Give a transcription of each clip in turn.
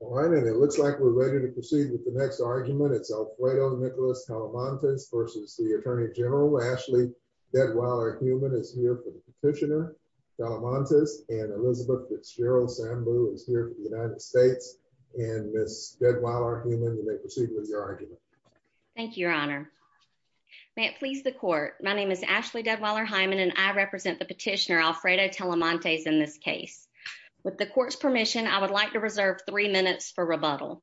All right, and it looks like we're ready to proceed with the next argument. It's Alfredo Nicholas Telemontes versus the Attorney General. Ashley Deadweller-Human is here for the petitioner. Telemontes and Elizabeth Fitzgerald-Sambu is here for the United States. And Ms. Deadweller-Human, you may proceed with your argument. Thank you, Your Honor. May it please the court. My name is Ashley Deadweller-Hyman, and I represent the petitioner Alfredo Telemontes in this case. With the court's permission, I would like to reserve three minutes for rebuttal.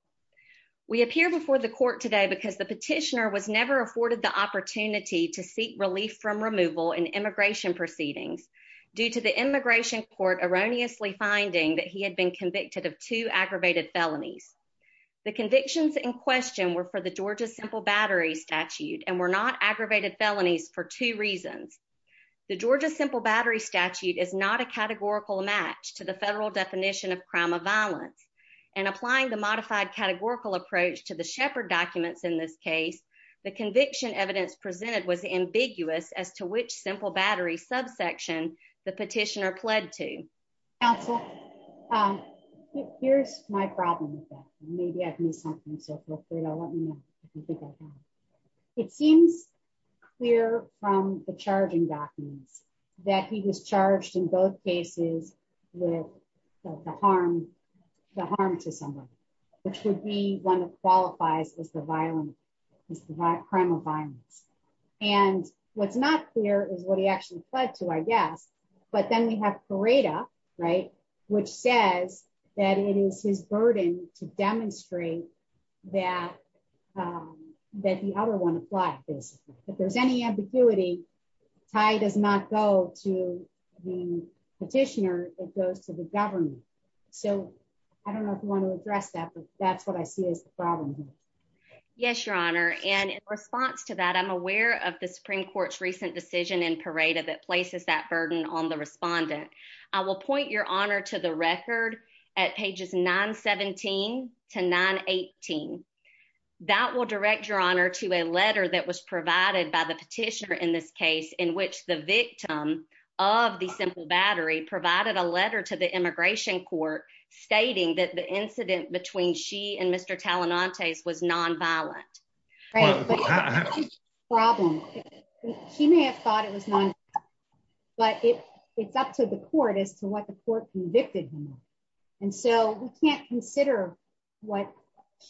We appear before the court today because the petitioner was never afforded the opportunity to seek relief from removal in immigration proceedings due to the immigration court erroneously finding that he had been convicted of two aggravated felonies. The convictions in question were for the Georgia simple battery statute and were not aggravated felonies for two reasons. The Georgia simple battery statute is not a categorical match to the federal definition of crime of violence. And applying the modified categorical approach to the Shepard documents in this case, the conviction evidence presented was ambiguous as to which simple battery subsection the petitioner pled to. Counsel, here's my problem with that. Maybe I've missed something. So feel free to let me know if you think I've got it. It seems clear from the charging documents that he was charged in both cases with the harm to someone, which would be one that qualifies as the crime of violence. And what's not clear is what he actually pled to, I guess. But then we have Pareto, right? Which says that it is his burden to demonstrate that the other one applied this. If there's any ambiguity, tie does not go to the petitioner, it goes to the government. So I don't know if you want to address that, but that's what I see as the problem here. Yes, Your Honor. And in response to that, I'm aware of the Supreme Court's recent decision in Pareto that places that burden on the respondent. I will point Your Honor to the record at pages 917 to 918. That will direct Your Honor to a letter that was provided by the petitioner in this case in which the victim of the simple battery provided a letter to the immigration court stating that the incident between she and Mr. Talenantes was non-violent. Right, but that's the problem. She may have thought it was non-violent, but it's up to the court as to what the court convicted him of. And so we can't consider what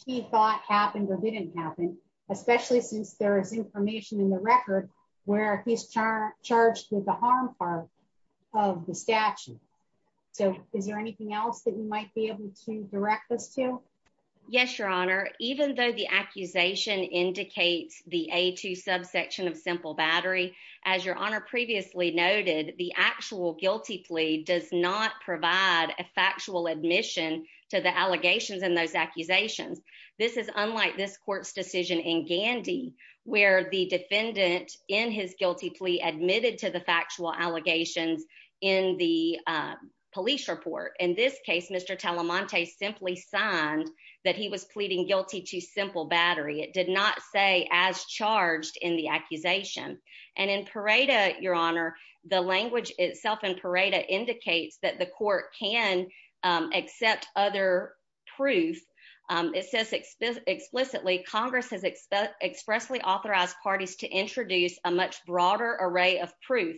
she thought happened or didn't happen, especially since there is information in the record where he's charged with the harm part of the statute. So is there anything else that you might be able to direct us to? Yes, Your Honor. Even though the accusation indicates the A2 subsection of simple battery, as Your Honor previously noted, the actual guilty plea does not provide a factual admission to the allegations in those accusations. This is unlike this court's decision in Gandy where the defendant in his guilty plea admitted to the factual allegations in the police report. In this case, Mr. Talenantes simply signed that he was pleading guilty to simple battery. It did not say as charged in the accusation. And in Pareto, Your Honor, the language itself in Pareto indicates that the court can accept other proof It says explicitly, Congress has expressly authorized parties to introduce a much broader array of proof,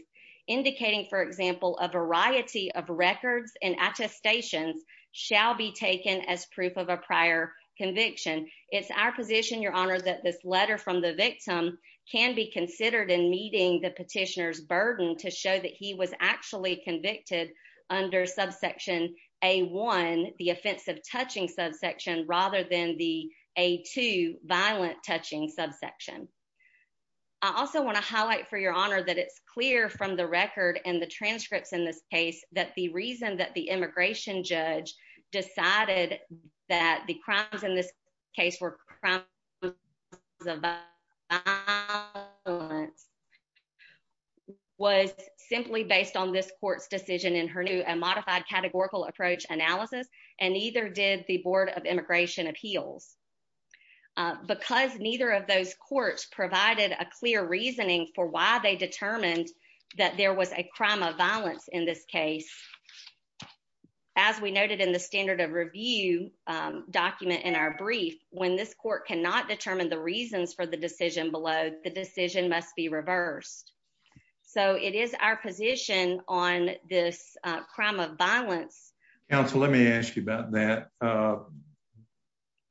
indicating, for example, a variety of records and attestations shall be taken as proof of a prior conviction. It's our position, Your Honor, that this letter from the victim can be considered in meeting the petitioner's burden to show that he was actually convicted under subsection A1, the offensive touching subsection, rather than the A2, violent touching subsection. I also want to highlight for Your Honor that it's clear from the record and the transcripts in this case that the reason that the immigration judge decided that the crimes in this case were crimes of violence was simply based on this court's decision in her new and modified categorical approach analysis, and neither did the Board of Immigration Appeals. Because neither of those courts provided a clear reasoning for why they determined that there was a crime of violence in this case, as we noted in the standard of review document in our brief, when this court cannot determine the reasons for the decision below, the decision must be reversed. So it is our position on this crime of violence. Counsel, let me ask you about that.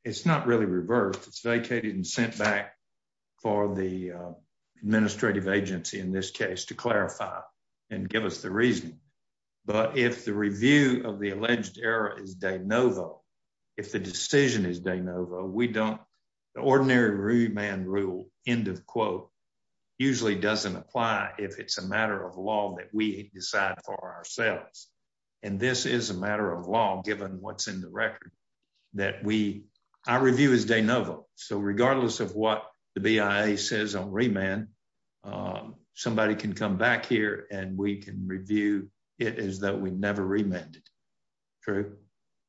It's not really reversed. It's vacated and sent back for the administrative agency in this case to clarify and give us the reasoning. But if the review of the alleged error is de novo, if the decision is de novo, we don't, the ordinary man rule, end of quote, usually doesn't apply if it's a matter of law that we decide for ourselves. And this is a matter of law, given what's in the record, that we, our review is de novo. So regardless of what the BIA says on remand, somebody can come back here and we can review it as though we never remanded. True?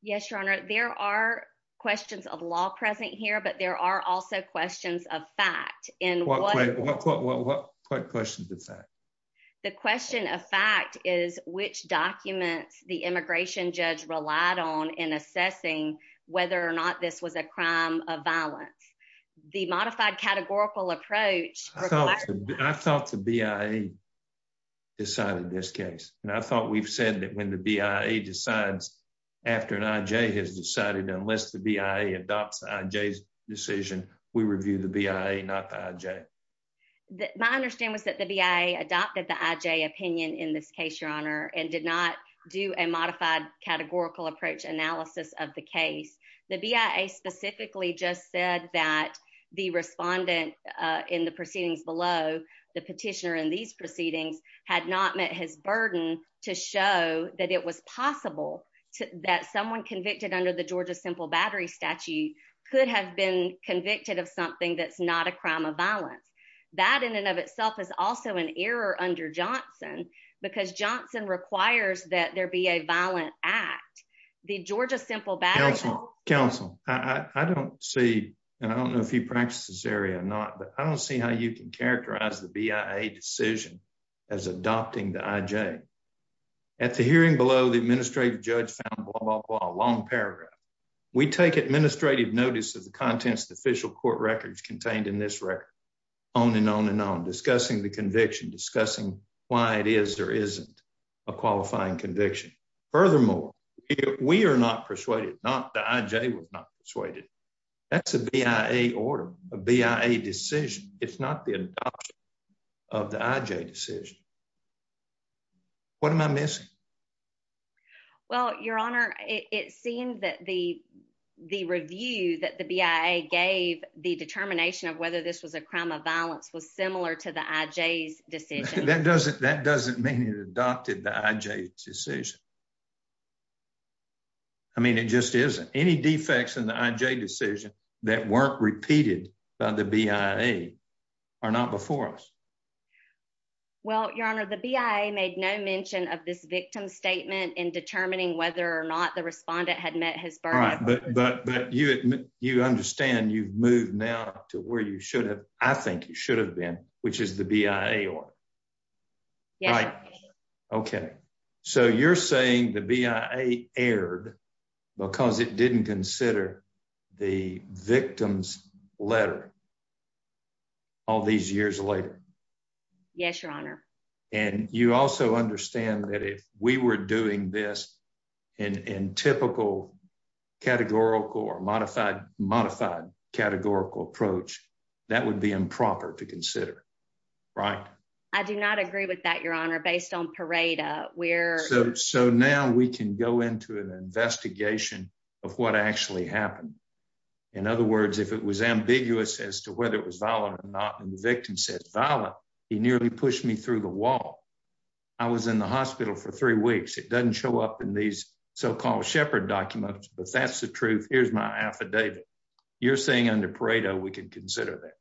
Yes, Your Honor. There are questions of law present here, but there are also questions of fact. What questions of fact? The question of fact is which documents the immigration judge relied on in assessing whether or not this was a crime of violence. The modified categorical approach requires- I thought the BIA decided this case. And I thought we've said that when the BIA decides after an IJ has decided, unless the BIA adopts the IJ's decision, we review the BIA, not the IJ. My understanding was that the BIA adopted the IJ opinion in this case, Your Honor, and did not do a modified categorical approach analysis of the case. The BIA specifically just said that the respondent in the proceedings below, the petitioner in these proceedings, had not met his burden to show that it was possible that someone convicted under the Georgia simple battery statute could have been convicted of something that's not a crime of violence. That in and of itself is also an error under Johnson because Johnson requires that there be a violent act. The Georgia simple battery- Counsel, counsel, I don't see, and I don't know if you practice this area or not, but I don't see how you can characterize the BIA decision as adopting the IJ. At the hearing below, the administrative judge found blah, blah, blah, long paragraph. We take administrative notice of the contents of the official court records contained in this record, on and on and on, discussing the conviction, discussing why it is or isn't a qualifying conviction. Furthermore, we are not persuaded, not the IJ was not persuaded. That's a BIA order, a BIA decision. It's not the adoption of the IJ decision. What am I missing? Well, your honor, it seemed that the review that the BIA gave the determination of whether this was a crime of violence was similar to the IJ's decision. That doesn't mean it adopted the IJ's decision. I mean, it just isn't. Any defects in the IJ decision that weren't repeated by the BIA are not before us. Well, your honor, the BIA made no mention of this victim's statement in determining whether or not the respondent had met his burden. But you understand you've moved now to where you should have, I think you should have been, which is the BIA order. Yes, your honor. Okay, so you're saying the BIA erred because it didn't consider the victim's letter all these years later? Yes, your honor. And you also understand that if we were doing this in typical categorical or modified categorical approach, that would be improper to consider, right? I do not agree with that, your honor. Based on Pareto, we're- So now we can go into an investigation of what actually happened. In other words, if it was ambiguous as to whether it was violent or not, and the victim said, violent, he nearly pushed me through the wall. I was in the hospital for three weeks. It doesn't show up in these so-called shepherd documents, but that's the truth. Here's my affidavit. You're saying under Pareto, we can consider that?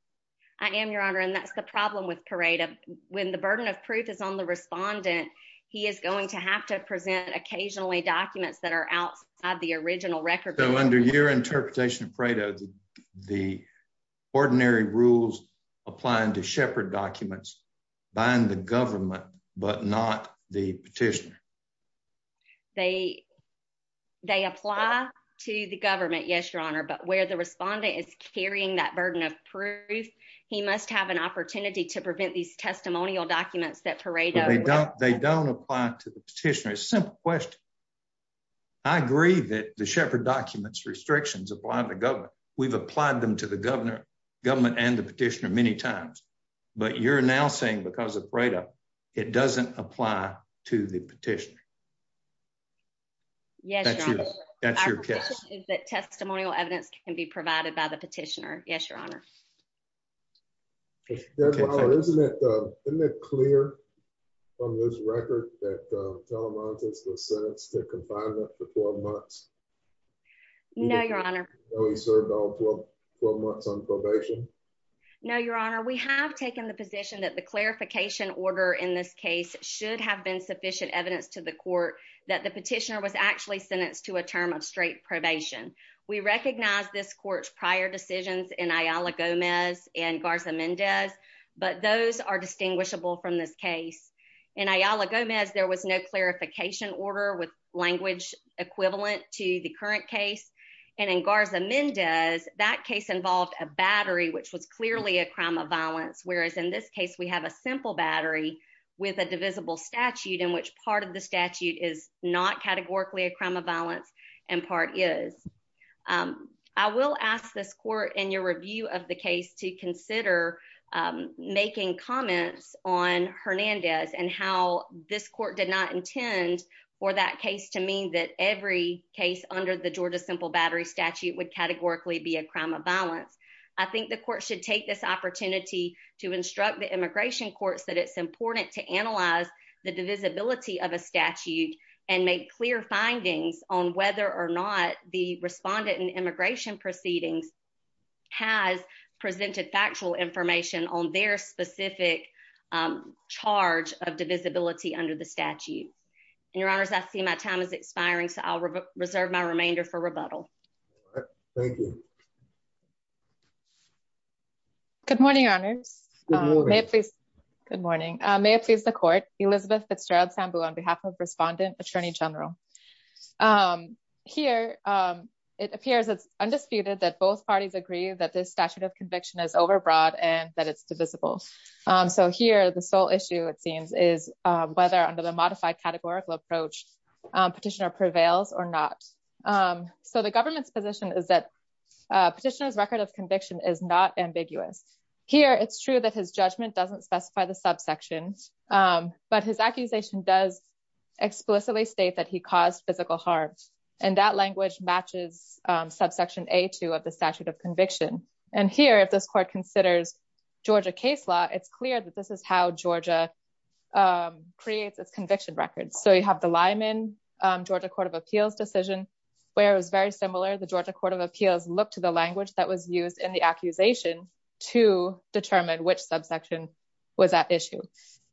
I am, your honor, and that's the problem with Pareto. When the burden of proof is on the respondent, he is going to have to present occasionally documents that are outside the original record. So under your interpretation of Pareto, the ordinary rules applying to shepherd documents bind the government, but not the petitioner. They apply to the government, yes, your honor, but where the respondent is carrying that burden of proof, he must have an opportunity to prevent these testimonial documents that Pareto- They don't apply to the petitioner. It's a simple question. I agree that the shepherd documents restrictions apply to the government. We've applied them to the government and the petitioner many times, but you're now saying because of Pareto, it doesn't apply to the petitioner. Yes, your honor. That's your guess. Our position is that testimonial evidence can be provided by the petitioner. Yes, your honor. Judge Lawler, isn't it clear from this record that Telemontes was sentenced to confinement for 12 months? No, your honor. No, he served all 12 months on probation? No, your honor. We have taken the position that the clarification order in this case should have been sufficient evidence to the court that the petitioner was actually sentenced to a term of straight probation. We recognize this court's prior decisions in Ayala Gomez and Garza-Mendez, but those are distinguishable from this case. In Ayala Gomez, there was no clarification order with language equivalent to the current case. And in Garza-Mendez, that case involved a battery which was clearly a crime of violence. Whereas in this case, we have a simple battery with a divisible statute in which part of the statute is not categorically a crime of violence and part is. I will ask this court in your review of the case to consider making comments on Hernandez and how this court did not intend for that case to mean that every case under the Georgia simple battery statute would categorically be a crime of violence. I think the court should take this opportunity to instruct the immigration courts that it's important to analyze the divisibility of a statute and make clear findings on whether or not the respondent in immigration proceedings has presented factual information on their specific charge of divisibility under the statute. And your honors, I see my time is expiring so I'll reserve my remainder for rebuttal. Thank you. Good morning, honors. Good morning. Good morning. May it please the court, Elizabeth Fitzgerald Sambu on behalf of respondent attorney general. Here, it appears it's undisputed that both parties agree that this statute of conviction is overbroad and that it's divisible. So here, the sole issue it seems is whether under the modified categorical approach petitioner prevails or not. So the government's position is that petitioner's record of conviction is not ambiguous. Here, it's true that his judgment doesn't specify the subsection, but his accusation does explicitly state that he caused physical harm. And that language matches subsection A2 of the statute of conviction. And here, if this court considers Georgia case law, it's clear that this is how Georgia creates its conviction records. So you have the Lyman Georgia Court of Appeals decision where it was very similar. The Georgia Court of Appeals looked to the language that was used in the accusation to determine which subsection was at issue.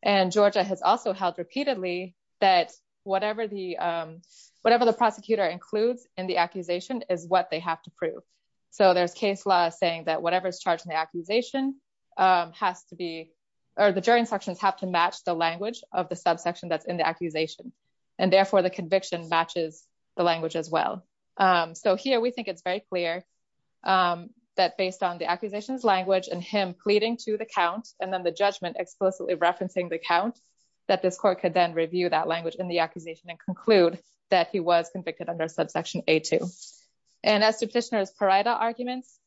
And Georgia has also held repeatedly that whatever the prosecutor includes in the accusation is what they have to prove. So there's case law saying that whatever's charged in the accusation has to be, or the jury instructions have to match the language of the subsection that's in the accusation. And therefore the conviction matches the language as well. So here we think it's very clear that based on the accusation's language and him pleading to the count and then the judgment explicitly referencing the count that this court could then review that language in the accusation and conclude that he was convicted under subsection A2. And as to petitioner's parietal arguments,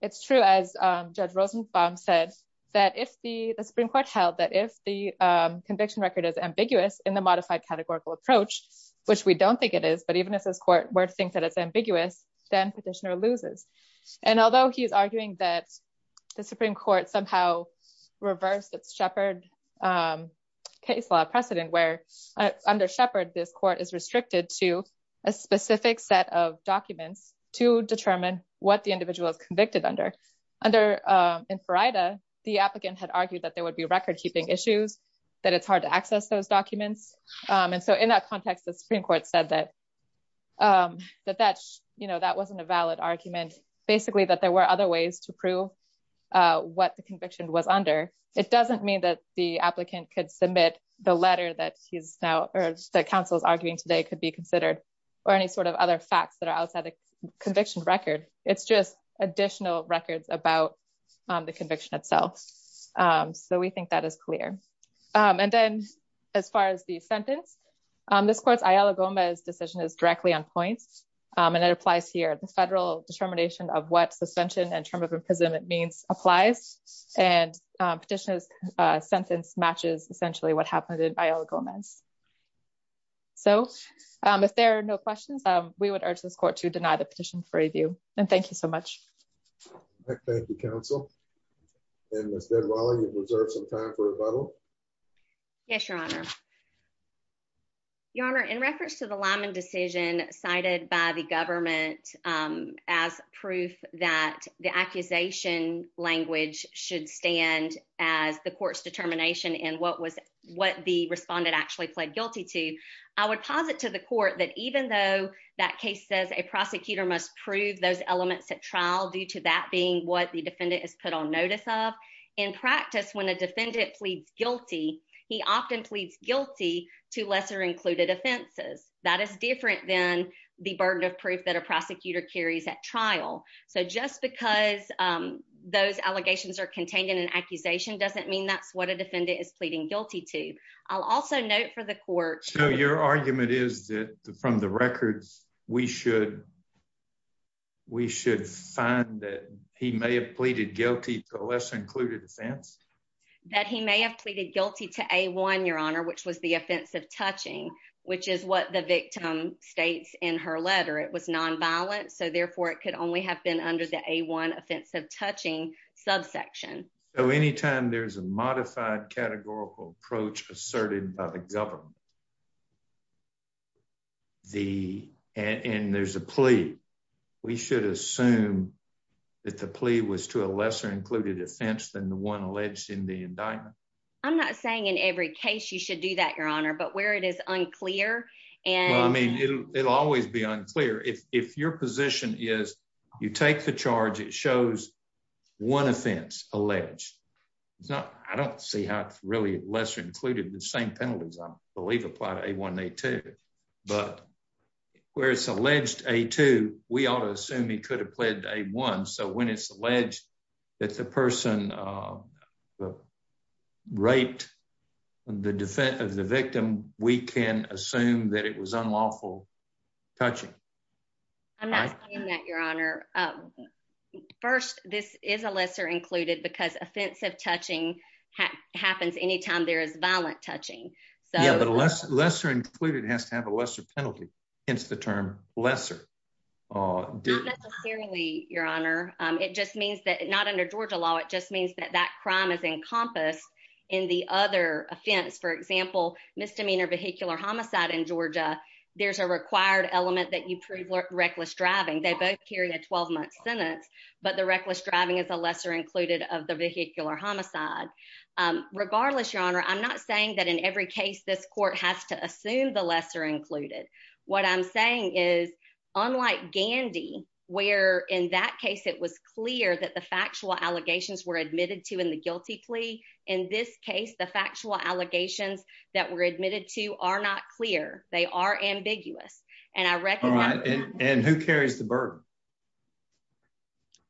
it's true as Judge Rosenbaum said that if the Supreme Court held that if the conviction record is ambiguous in the modified categorical approach, which we don't think it is, but even if this court were to think that it's ambiguous, then petitioner loses. And although he's arguing that the Supreme Court somehow reversed its Sheppard case law precedent where under Sheppard, this court is restricted to a specific set of documents to determine what the individual is convicted under. Under in Farida, the applicant had argued that there would be record-keeping issues, that it's hard to access those documents. And so in that context, the Supreme Court said that that wasn't a valid argument, basically that there were other ways to prove what the conviction was under. It doesn't mean that the applicant could submit the letter that he's now, or that counsel's arguing today could be considered or any sort of other facts that are outside the conviction record. It's just additional records about the conviction itself. So we think that is clear. And then as far as the sentence, this court's Ayala Gomez decision is directly on points. And it applies here, the federal determination of what suspension and term of imprisonment means applies. And petitioner's sentence matches essentially what happened in Ayala Gomez. So if there are no questions, we would urge this court to deny the petition for review. And thank you so much. Thank you, counsel. And Ms. Deadwally, you have reserved some time for rebuttal. Yes, Your Honor. Your Honor, in reference to the Lyman decision cited by the government as proof that the accusation language should stand as the court's determination and what the respondent actually pled guilty to, I would posit to the court that even though that case says a prosecutor must prove those elements at trial due to that being what the defendant is put on notice of, in practice, when a defendant pleads guilty, he often pleads guilty to lesser included offenses. That is different than the burden of proof that a prosecutor carries at trial. So just because those allegations are contained in an accusation doesn't mean that's what a defendant is pleading guilty to. I'll also note for the court- So your argument is that from the records, we should find that he may have pleaded guilty to a lesser included offense? That he may have pleaded guilty to A1, Your Honor, which was the offensive touching, which is what the victim states in her letter. It was non-violent, so therefore it could only have been under the A1 offensive touching subsection. So anytime there's a modified categorical approach asserted by the government, and there's a plea, we should assume that the plea was to a lesser included offense than the one alleged in the indictment. I'm not saying in every case you should do that, Your Honor, but where it is unclear and- Well, I mean, it'll always be unclear. If your position is you take the charge, it shows one offense alleged. It's not, I don't see how it's really lesser included. The same penalties, I believe, apply to A1 and A2, but where it's alleged A2, we ought to assume he could have pledged A1. So when it's alleged that the person raped the victim, we can assume that it was unlawful touching. I'm not saying that, Your Honor. First, this is a lesser included because offensive touching happens anytime there is violent touching. So- Yeah, but lesser included has to have a lesser penalty. Hence the term lesser. Not necessarily, Your Honor. It just means that, not under Georgia law, it just means that that crime is encompassed in the other offense. For example, misdemeanor vehicular homicide in Georgia, there's a required element that you prove reckless driving. They both carry a 12-month sentence, but the reckless driving is a lesser included of the vehicular homicide. Regardless, Your Honor, I'm not saying that in every case this court has to assume the lesser included. What I'm saying is, unlike Gandy, where in that case it was clear that the factual allegations were admitted to in the guilty plea, in this case, the factual allegations that were admitted to are not clear. They are ambiguous. And I recognize- All right. And who carries the burden?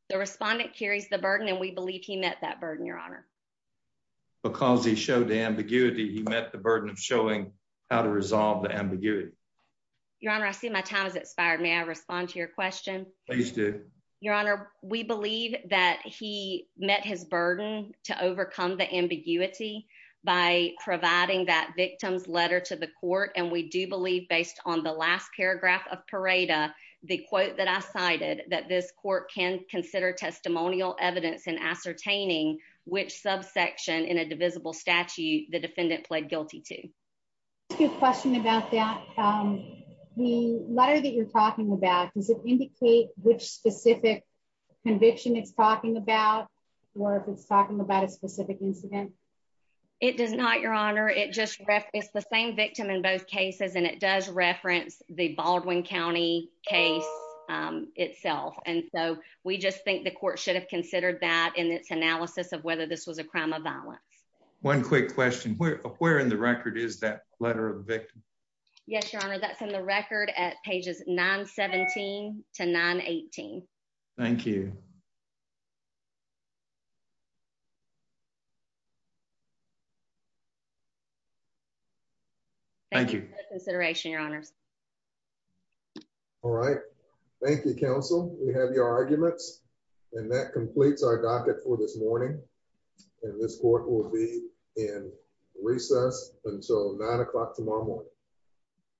The respondent carries the burden, and we believe he met that burden, Your Honor. Because he showed the ambiguity, he met the burden of showing how to resolve the ambiguity. Your Honor, I see my time has expired. May I respond to your question? Please do. Your Honor, we believe that he met his burden to overcome the ambiguity by providing that victim's letter to the court. And we do believe, based on the last paragraph of Pareda, the quote that I cited, that this court can consider testimonial evidence in ascertaining which subsection in a divisible statute the defendant pled guilty to. I have a question about that. The letter that you're talking about, does it indicate which specific conviction it's talking about, or if it's talking about a specific incident? It does not, Your Honor. It's the same victim in both cases, and it does reference the Baldwin County case itself. And so we just think the court should have considered that in its analysis of whether this was a crime of violence. One quick question. Where in the record is that letter of the victim? Yes, Your Honor, that's in the record at pages 917 to 918. Thank you. Thank you. Thank you. Thank you for your consideration, Your Honors. All right. Thank you, counsel. We have your arguments, and that completes our docket for this morning. And this court will be in recess until nine o'clock tomorrow morning.